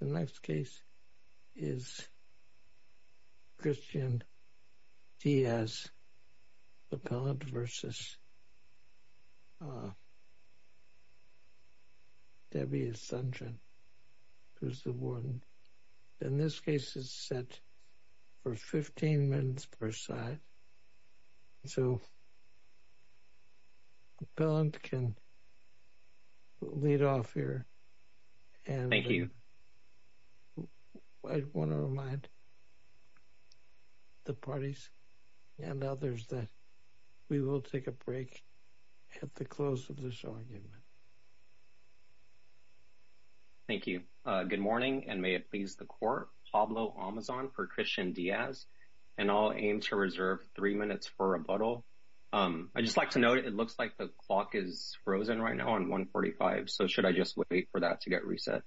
who's the warden. In this case it's set for 15 minutes per side. So the appellant can lead off here. Thank you. I want to remind the parties and others that we will take a break at the close of this argument. Thank you. Good morning and may it please the court. Pablo Amazon for Christian Diaz and I'll aim to reserve three minutes for rebuttal. I'd just like to note it looks like the clock is frozen right now on 145. So should I just wait for that to get reset?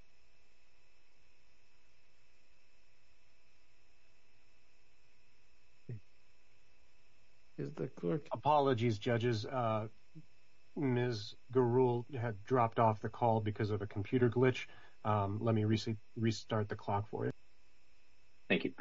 Apologies judges. Ms. Garul had dropped off the call because of a computer glitch. Let me restart the clock for you. Thank you.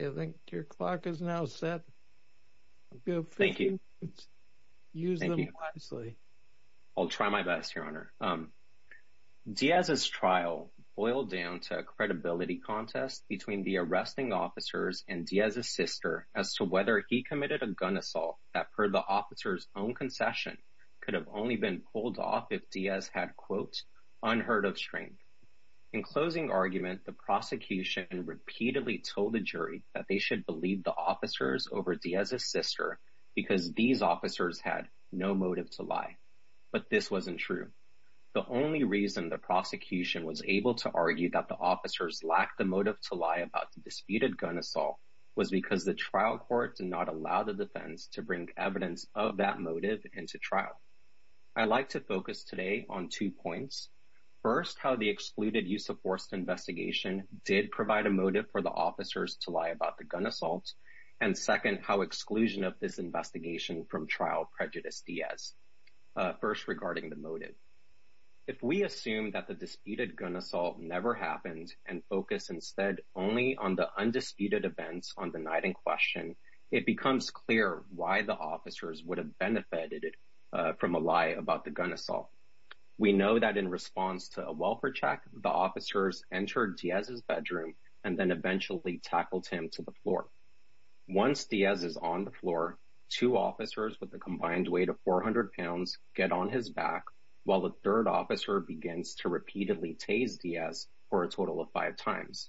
I think your clock is now set. Thank you. I'll try my best your honor. Diaz's trial boiled down to a credibility contest between the arresting officers and Diaz's sister as to whether he committed a gun assault that per the officer's own concession could have only been pulled off if Diaz had quote unheard of strength. In closing argument the prosecution repeatedly told the jury that they should believe the officers over Diaz's sister because these officers had no motive to lie. But this wasn't true. The only reason the prosecution was able to argue that the officers lacked the motive to lie about the disputed gun assault was because the trial court did not allow the defense to evidence of that motive into trial. I like to focus today on two points. First how the excluded use of force investigation did provide a motive for the officers to lie about the gun assault and second how exclusion of this investigation from trial prejudice Diaz. First regarding the motive. If we assume that the disputed gun assault never happened and focus instead only on the disputed events on the night in question it becomes clear why the officers would have benefited from a lie about the gun assault. We know that in response to a welfare check the officers entered Diaz's bedroom and then eventually tackled him to the floor. Once Diaz is on the floor two officers with the combined weight of 400 pounds get on his back while the third officer begins to repeatedly tase Diaz for a total of five times.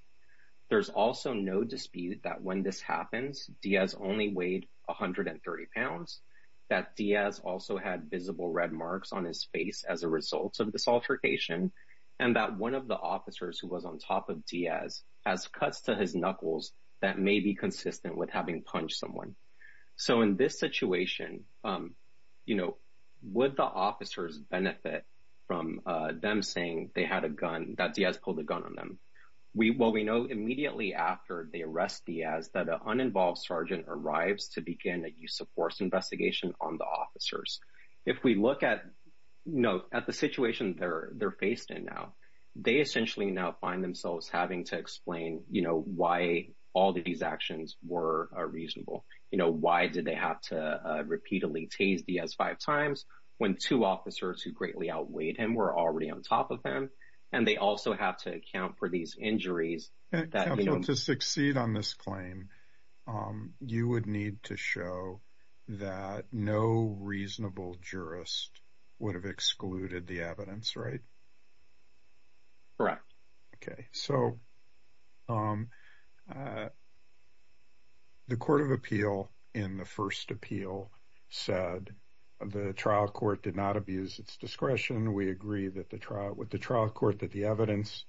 There's also no dispute that when this happens Diaz only weighed 130 pounds that Diaz also had visible red marks on his face as a result of this altercation and that one of the officers who was on top of Diaz has cuts to his knuckles that may be consistent with having punched someone. So in this situation you know would the officers benefit from them saying they had a gun that Diaz pulled a gun on them. We well we know immediately after they arrest Diaz that an uninvolved sergeant arrives to begin a use-of-force investigation on the officers. If we look at you know at the situation they're they're faced in now they essentially now find themselves having to explain you know why all these actions were reasonable. You know why did they have to repeatedly tase Diaz five times when two officers who greatly outweighed him were already on top of them and they also have to account for these injuries. To succeed on this claim you would need to show that no reasonable jurist would have excluded the evidence right? Correct. Okay so the Court of Appeal in the first appeal said the trial court did not abuse its discretion. We agree that the trial with the trial court that the evidence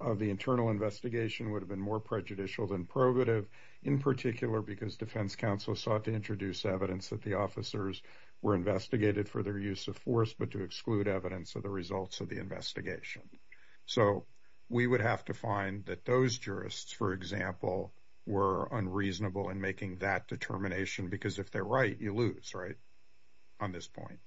of the internal investigation would have been more prejudicial than probative in particular because defense counsel sought to introduce evidence that the officers were investigated for their use of force but to exclude evidence of the results of the investigation. So we would have to find that those jurists for example were unreasonable in making that determination because if they're right you lose right on this point.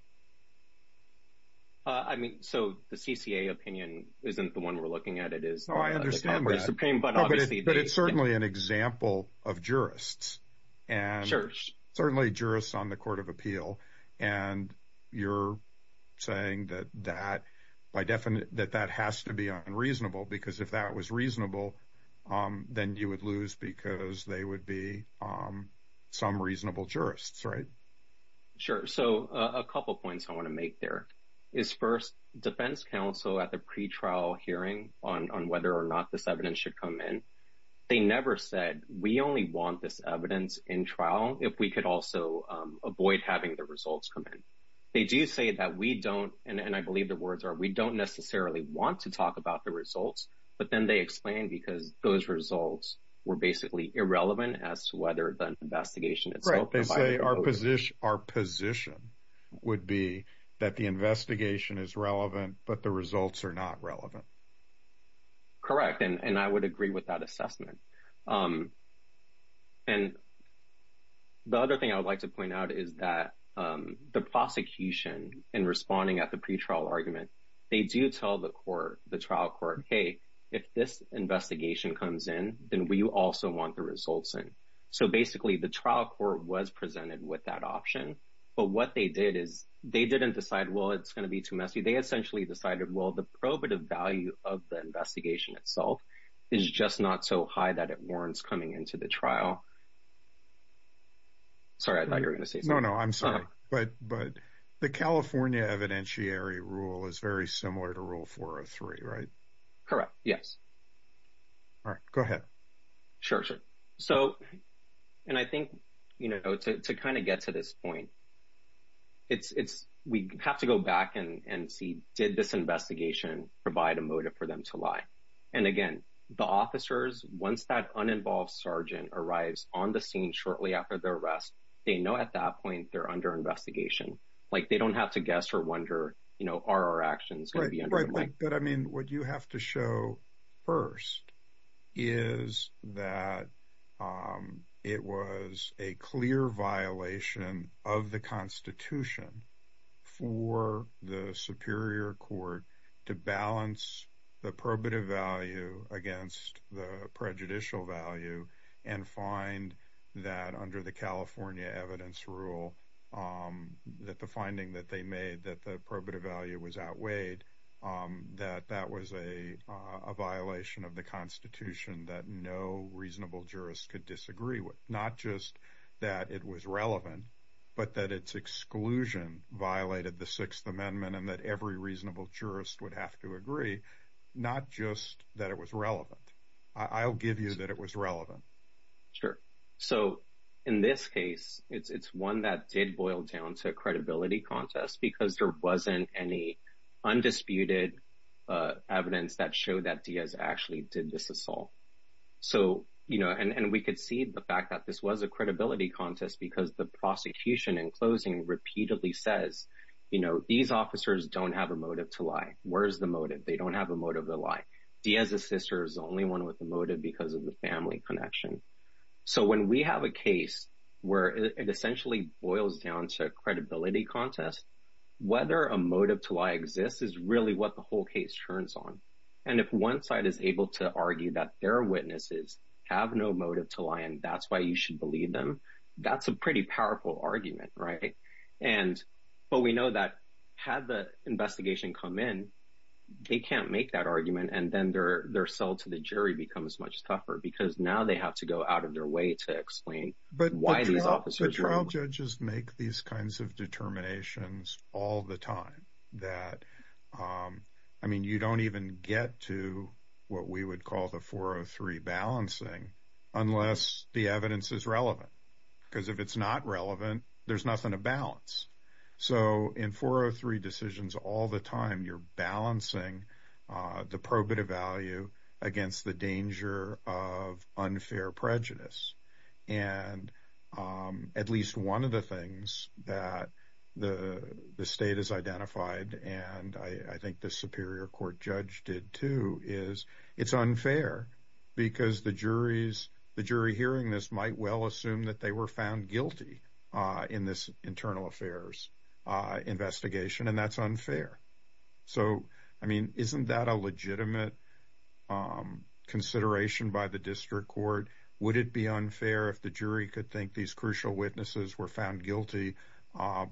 I mean so the CCA opinion isn't the one we're looking at it is. Oh I understand but it's certainly an example of jurists and certainly jurists on the Court of Appeal and you're saying that that by definite that that has to be unreasonable because if that was reasonable then you would lose because they would be some reasonable jurists right? Sure so a couple points I want to make there is first defense counsel at the pretrial hearing on whether or not this evidence should come in they never said we only want this evidence in trial if we could also avoid having the results come in. They do say that we don't and I believe the words are we don't necessarily want to talk about the results but then they explain because those results were basically irrelevant as to whether the investigation is right. They say our position our position would be that the investigation is relevant but the results are not relevant. Correct and and I would agree with that assessment and the other thing I would like to point out is that the prosecution in responding at the pretrial argument they do tell the court the trial court hey if this investigation comes in then we also want the results in. So basically the trial court was presented with that option but what they did is they didn't decide well it's gonna be too messy they essentially decided well the probative value of the investigation itself is just not so high that it warrants coming into the trial. Sorry I thought you're gonna say something. No no I'm sorry but but the California evidentiary rule is very similar to rule 403 right? Correct yes. All right go ahead. Sure sure so and I think you know to kind of get to this point it's it's we have to go back and and see did this investigation provide a motive for them to lie and again the officers once that uninvolved sergeant arrives on the scene shortly after the arrest they know at that point they're under investigation like they don't have to guess or wonder you know are our actions going to be. But I mean what you have to show first is that it was a clear violation of the Constitution for the Superior Court to balance the probative value against the prejudicial value and find that under the California evidence rule that the finding that they made that the probative value was outweighed that that was a violation of the Constitution that no reasonable jurist could disagree with not just that it was relevant but that its exclusion violated the Sixth Amendment and that every reasonable jurist would have to agree not just that it was relevant. I'll give you that it was relevant. Sure so in this case it's it's one that did boil down to a credibility contest because there wasn't any undisputed evidence that showed that Diaz actually did this assault. So you know and and we could see the fact that this was a credibility contest because the prosecution in closing repeatedly says you know these officers don't have a motive to lie where's the motive they don't have a motive to lie Diaz's sister is only one with a motive because of the family connection. So when we have a case where it essentially boils down to a credibility contest whether a motive to lie exists is really what the whole case turns on and if one side is able to argue that their witnesses have no motive to lie and that's why you should believe them that's a pretty powerful argument right and but we know that had the investigation come in they can't make that argument and then they're they're held to the jury becomes much tougher because now they have to go out of their way to explain but why these officers trial judges make these kinds of determinations all the time that I mean you don't even get to what we would call the 403 balancing unless the evidence is relevant because if it's not relevant there's nothing to balance. So in 403 decisions all the time you're balancing the probative value against the danger of unfair prejudice and at least one of the things that the state has identified and I think the Superior Court judge did too is it's unfair because the jury's the jury hearing this might well assume that they were found guilty in this internal affairs investigation and that's unfair so I mean isn't that a legitimate consideration by the district court would it be unfair if the jury could think these crucial witnesses were found guilty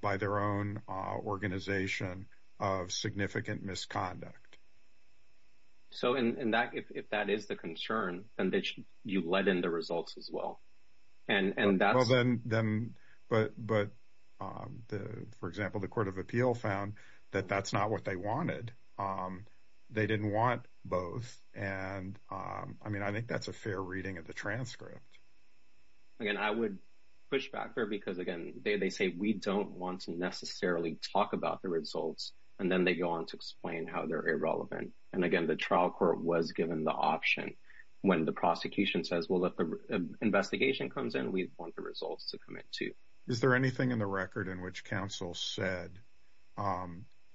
by their own organization of significant misconduct. So in that if that is the concern and they should you let in the results as well and and that's them but but for example the Court of Appeal found that that's not what they wanted they didn't want both and I mean I think that's a fair reading of the transcript. Again I would push back there because again they say we don't want to necessarily talk about the results and then they go on to explain how they're irrelevant and again the trial court was given the option when the prosecution says we'll let the investigation comes in we want the results to commit to. Is there anything in the record in which counsel said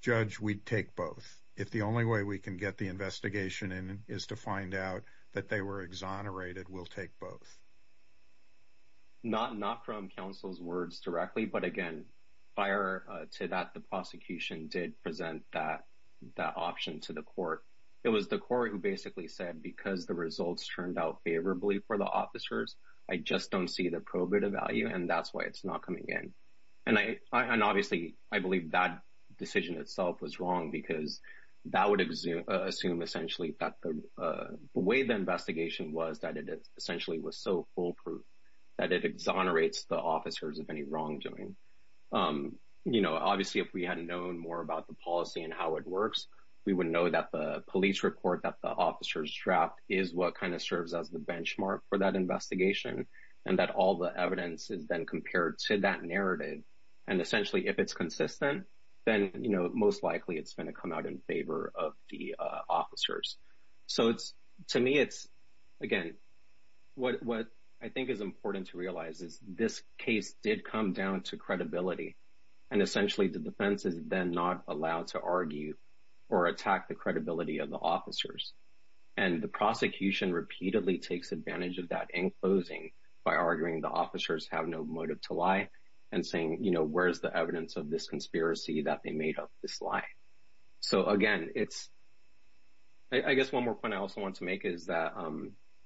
judge we'd take both if the only way we can get the investigation in is to find out that they were exonerated we'll take both. Not not from counsel's words directly but again prior to that the prosecution did present that that option to the court it was the basically said because the results turned out favorably for the officers I just don't see the probative value and that's why it's not coming in and I and obviously I believe that decision itself was wrong because that would assume essentially that the way the investigation was that it essentially was so foolproof that it exonerates the officers of any wrongdoing. You know obviously if we hadn't known more about the policy and how it works we wouldn't know that the police report that the officers draft is what kind of serves as the benchmark for that investigation and that all the evidence is then compared to that narrative and essentially if it's consistent then you know most likely it's going to come out in favor of the officers. So it's to me it's again what what I think is important to realize is this case did come down to credibility and essentially the defense is then not allowed to argue or attack the credibility of the officers and the prosecution repeatedly takes advantage of that enclosing by arguing the officers have no motive to lie and saying you know where's the evidence of this conspiracy that they made up this lie. So again it's I guess one more point I also want to make is that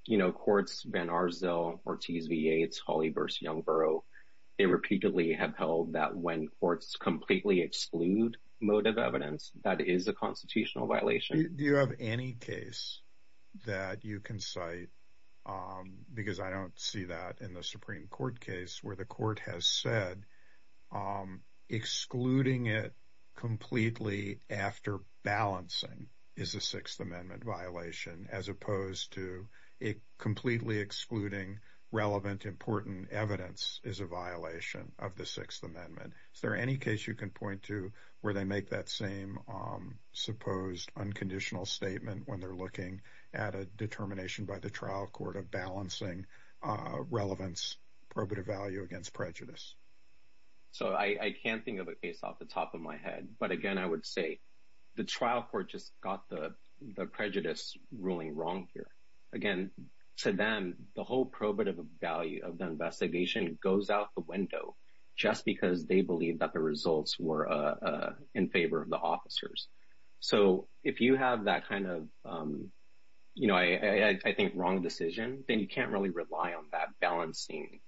you know courts Van Arsdale, Ortiz VA, it's Hawley versus Youngborough they repeatedly have held that when courts completely exclude motive evidence that is a constitutional violation. Do you have any case that you can cite because I don't see that in the Supreme Court case where the court has said excluding it completely after balancing is a Sixth Amendment violation as opposed to it completely excluding relevant important evidence is a violation of the Sixth Amendment. Is there any case you can point to where they make that same supposed unconditional statement when they're looking at a determination by the trial court of balancing relevance probative value against prejudice? So I can't think of it based off the top of my head but again I would say the trial court just got the prejudice ruling wrong here. Again to them the whole probative value of the results were in favor of the officers. So if you have that kind of you know I think wrong decision then you can't really rely on that balancing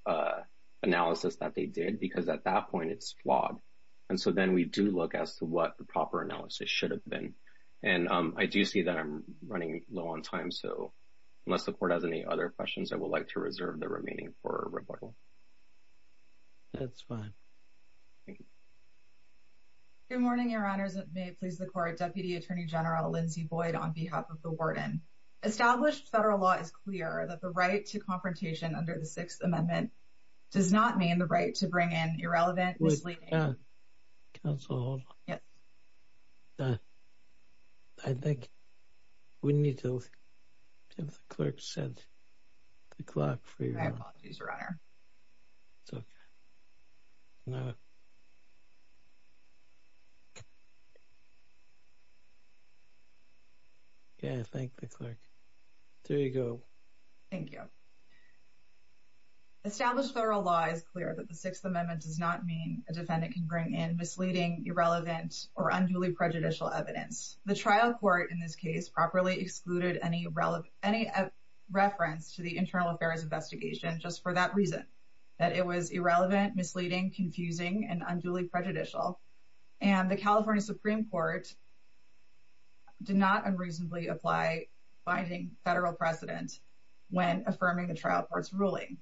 analysis that they did because at that point it's flawed and so then we do look as to what the proper analysis should have been and I do see that I'm running low on time so unless the court has any other questions I would like to reserve the remaining for rebuttal. That's fine. Good morning your honors it may please the court Deputy Attorney General Lindsey Boyd on behalf of the warden. Established federal law is clear that the right to confrontation under the Sixth Amendment does not mean the right to bring in irrelevant misleading... Wait, counsel hold on. Yes. I think we need to have the clerk set the clock for you. My apologies your honor. It's okay. Yeah, thank the clerk. There you go. Thank you. Established federal law is clear that the Sixth Amendment does not mean a defendant can bring in misleading irrelevant or unduly prejudicial evidence. The trial court in this case properly excluded any reference to the internal affairs investigation just for that reason that it was irrelevant misleading confusing and unduly prejudicial and the California Supreme Court did not unreasonably apply binding federal precedent when affirming the trial court's ruling.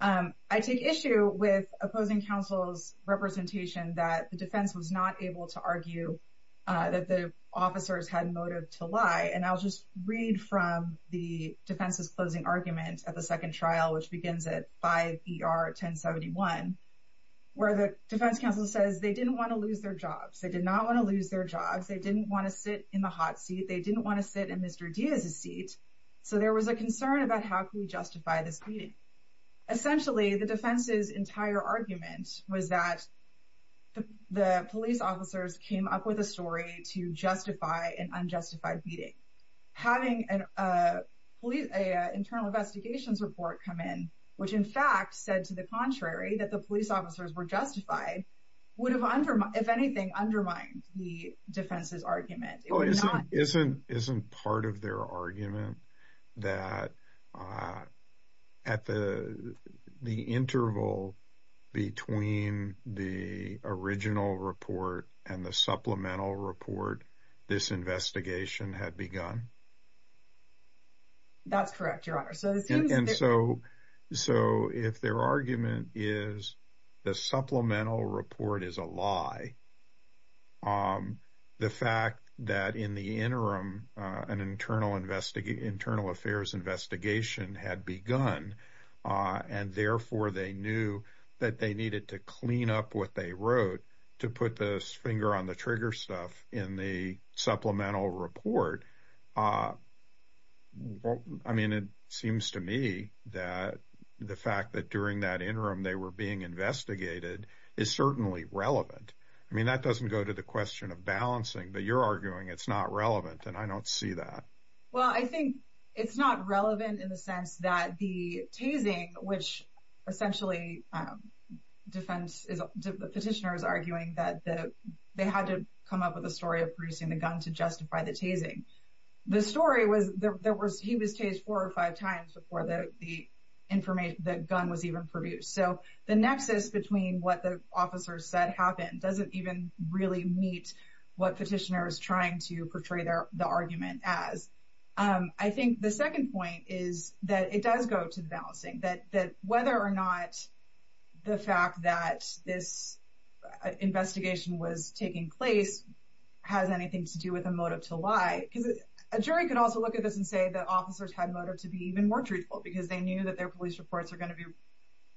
I take issue with opposing counsel's representation that the defense was not able to argue that the officers had motive to lie and I'll just read from the defense's closing argument at the second trial which begins at 5 ER 1071 where the defense counsel says they didn't want to lose their jobs they did not want to lose their jobs they didn't want to sit in the hot seat they didn't want to sit in Mr. Diaz's seat so there was a concern about how can we justify this meeting. Essentially the defense's entire argument was that the police officers came up with a story to justify an unjustified meeting. Having an internal investigations report come in which in fact said to the contrary that the police officers were justified would have undermined if anything undermined the defense's argument. Isn't part of their argument that at the the interval between the original report and the supplemental report this investigation had begun? That's correct your honor. So if their argument is the supplemental report is a lie the fact that in the interim an internal investigation internal affairs investigation had begun and therefore they knew that they needed to clean up what they wrote to put this finger on the trigger stuff in the supplemental report. I mean it seems to me that the fact that during that interim they were being investigated is certainly relevant. I mean that doesn't go to the question of balancing but you're arguing it's not relevant and I don't see that. Well I think it's not relevant in the sense that the tasing which essentially the petitioner is arguing that they had to come up with a story of producing the gun to justify the tasing. The story was there was he was tased four or five times before the information that gun was even produced. So the nexus between what the officers said happened doesn't even really meet what petitioner is trying to portray the argument as. I think the second point is that it does go to the balancing that whether or not the fact that this investigation was taking place has anything to do with a motive to lie. Because a jury could also look at this and say that officers had motive to be even more truthful because they knew that their police reports are going to be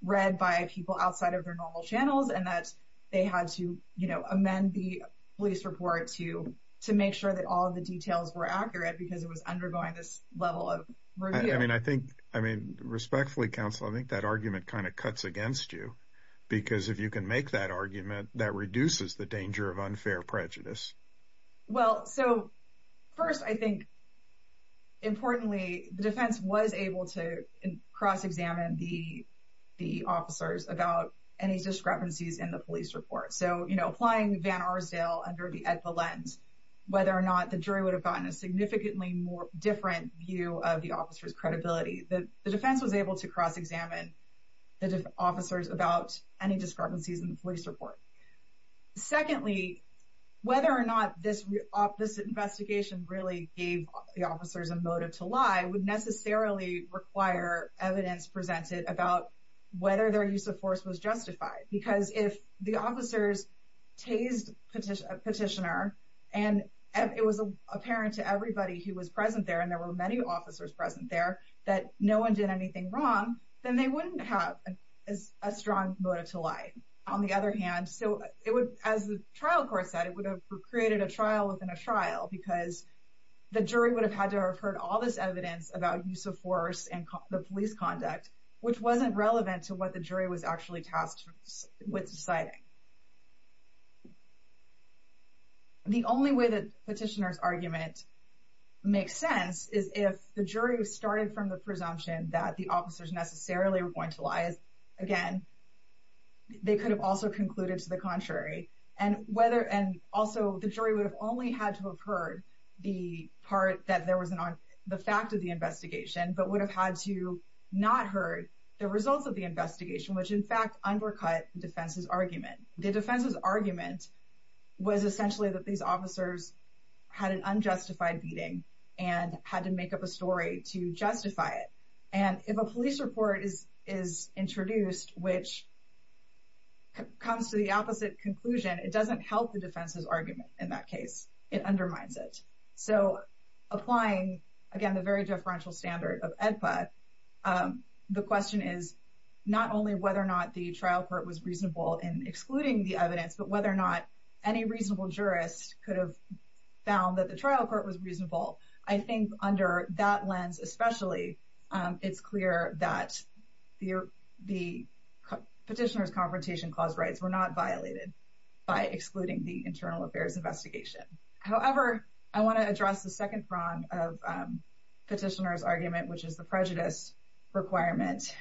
read by people outside of their normal channels and that they had to you know amend the police report to to make sure that all the details were accurate because it was undergoing this level of review. I mean I think I mean respectfully counsel I think that argument kind of cuts against you because if you can make that argument that reduces the danger of unfair prejudice. Well so first I think importantly the defense was able to cross-examine the the officers about any discrepancies in the police report. So you know applying Van Arsdale under the lens whether or not the jury would have gotten a significantly more different view of the officers credibility. The defense was able to cross-examine the officers about any discrepancies in the police report. Secondly whether or not this opposite investigation really gave the officers a motive to lie would necessarily require evidence presented about whether their use of force was justified. Because if the officers tased a petitioner and it was apparent to everybody who was present there and there were many officers present there that no one did anything wrong then they wouldn't have a strong motive to lie. On the other hand so it would as the trial court said it would have created a trial within a trial because the jury would have had to have heard all this evidence about use of force and the police conduct which wasn't relevant to what the jury was actually tasked with deciding. The only way that petitioners argument makes sense is if the jury was started from the presumption that the officers necessarily were going to lie again they could have also concluded to the contrary and whether and also the jury would have only had to have heard the part that there was an on the fact of the investigation but would have had to not heard the results of the investigation which in fact undercut defense's argument. The defense's argument was essentially that these officers had an unjustified beating and had to make up a story to justify it and if a police report is is introduced which comes to the opposite conclusion it doesn't help the defense's argument in that case it undermines it. So applying again the very differential standard of EDPA the question is not only whether or not the trial court was reasonable in excluding the evidence but whether or not any reasonable jurist could have found that the trial court was reasonable. I think under that lens especially it's clear that the petitioner's confrontation clause rights were not violated by excluding the internal affairs investigation. However I want to address the second prong of petitioner's argument which is the prejudice requirement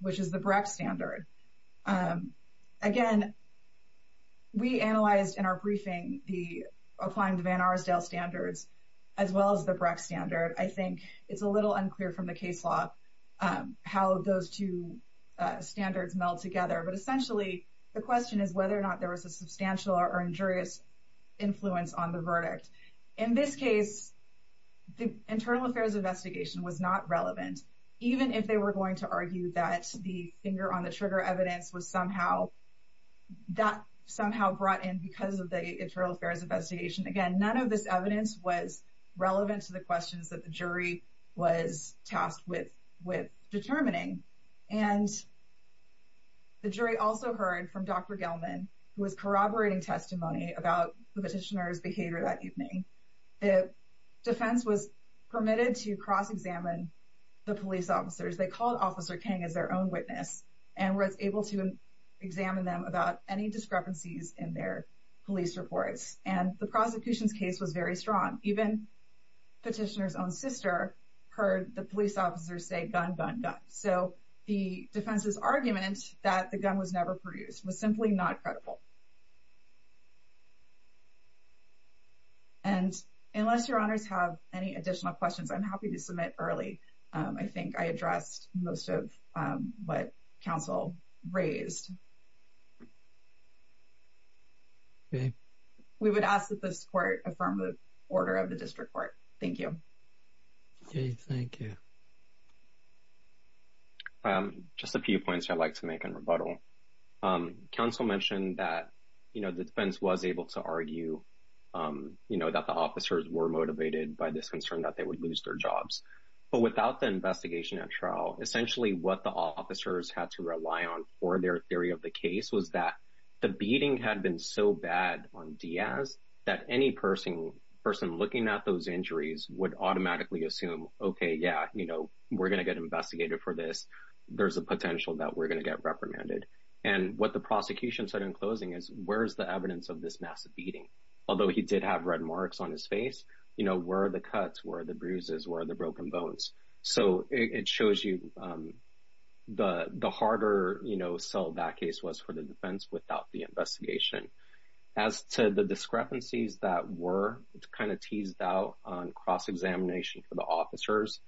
which is the BRAC standard. Again we analyzed in our briefing the applying to Van Arsdale standards as well as the BRAC standard I think it's a little unclear from the case law how those two standards meld together but essentially the question is whether or not there was a substantial or injurious influence on the verdict. In this case the internal affairs investigation was not relevant even if they were going to argue that the finger-on-the-trigger evidence was somehow that somehow brought in because of the internal affairs investigation again none of this evidence was relevant to the questions that the jury was tasked with determining and the jury also heard from Dr. Gelman who was corroborating testimony about the petitioner's behavior that evening. The defense was permitted to cross-examine the police officers they called Officer King as their own witness and was able to examine them about any discrepancies in their police reports and the prosecution's case was very strong even petitioner's own sister heard the police officers say gun gun gun so the defense's argument that the gun was never produced was simply not credible and unless your honors have any additional questions I'm happy to submit early I think I addressed most of what counsel raised. We would ask that this court affirm the order of the court. Thank you. Just a few points I'd like to make in rebuttal. Counsel mentioned that you know the defense was able to argue you know that the officers were motivated by this concern that they would lose their jobs but without the investigation at trial essentially what the officers had to rely on for their theory of the case was that the beating had been so bad on Diaz that any person looking at those injuries would automatically assume okay yeah you know we're gonna get investigated for this there's a potential that we're gonna get reprimanded and what the prosecution said in closing is where's the evidence of this massive beating although he did have red marks on his face you know where are the cuts where are the bruises where are the broken bones so it shows you the the harder you know sell that case was for the defense without the investigation as to the discrepancies that were it's kind of teased out on cross-examination for the officers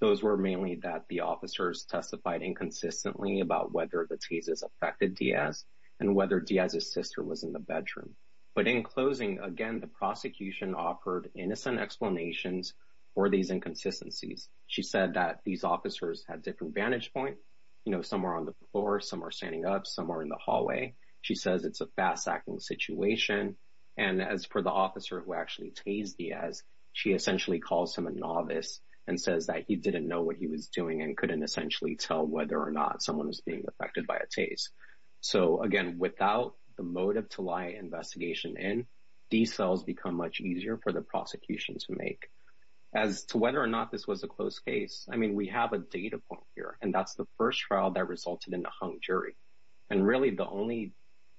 those were mainly that the officers testified inconsistently about whether the teases affected Diaz and whether Diaz's sister was in the bedroom but in closing again the prosecution offered innocent explanations for these inconsistencies she said that these officers had different vantage point you know somewhere on the floor some are standing up somewhere in the hallway she says it's a fast-acting situation and as for the officer who actually teased Diaz she essentially calls him a novice and says that he didn't know what he was doing and couldn't essentially tell whether or not someone was being affected by a taste so again without the motive to lie investigation in these cells become much easier for the prosecution to make as to whether or not this was a close case I mean we have a data point here and that's the first trial that resulted in the hung jury and really the only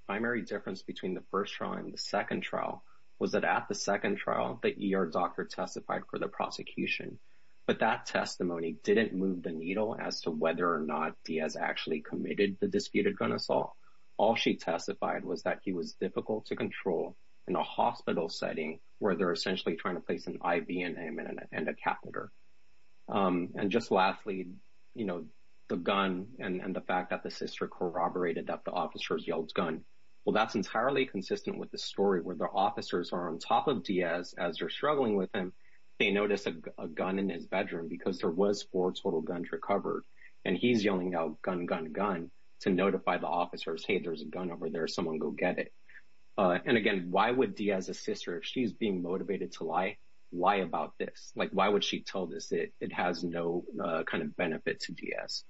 primary difference between the first trial and the second trial was that at the second trial that ER doctor testified for the prosecution but that testimony didn't move the needle as to whether or not Diaz actually committed the disputed gun assault all she testified was that he was difficult to control in a hospital setting where they're essentially trying to place an and a catheter and just lastly you know the gun and the fact that the sister corroborated that the officers yelled gun well that's entirely consistent with the story where the officers are on top of Diaz as they're struggling with him they noticed a gun in his bedroom because there was four total guns recovered and he's yelling out gun gun gun to notify the officers hey there's a gun over there someone go get it and again why would Diaz a sister if she's being motivated to lie lie about this like why would she tell this it it has no kind of benefit to Diaz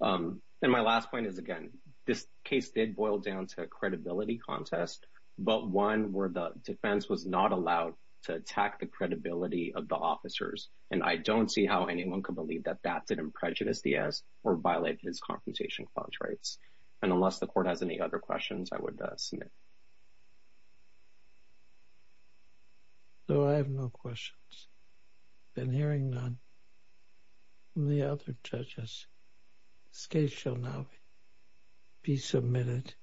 and my last point is again this case did boil down to a credibility contest but one where the defense was not allowed to attack the credibility of the officers and I don't see how anyone could believe that that didn't prejudice Diaz or violate his compensation clause rights and unless the court has any other questions I would submit though I have no questions been hearing none from the other judges case shall now be submitted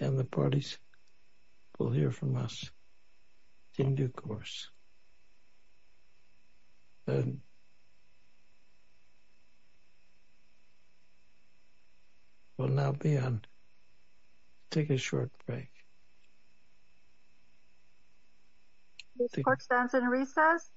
and the parties will hear from us in due course and will now be on take a short break the court stands in recess you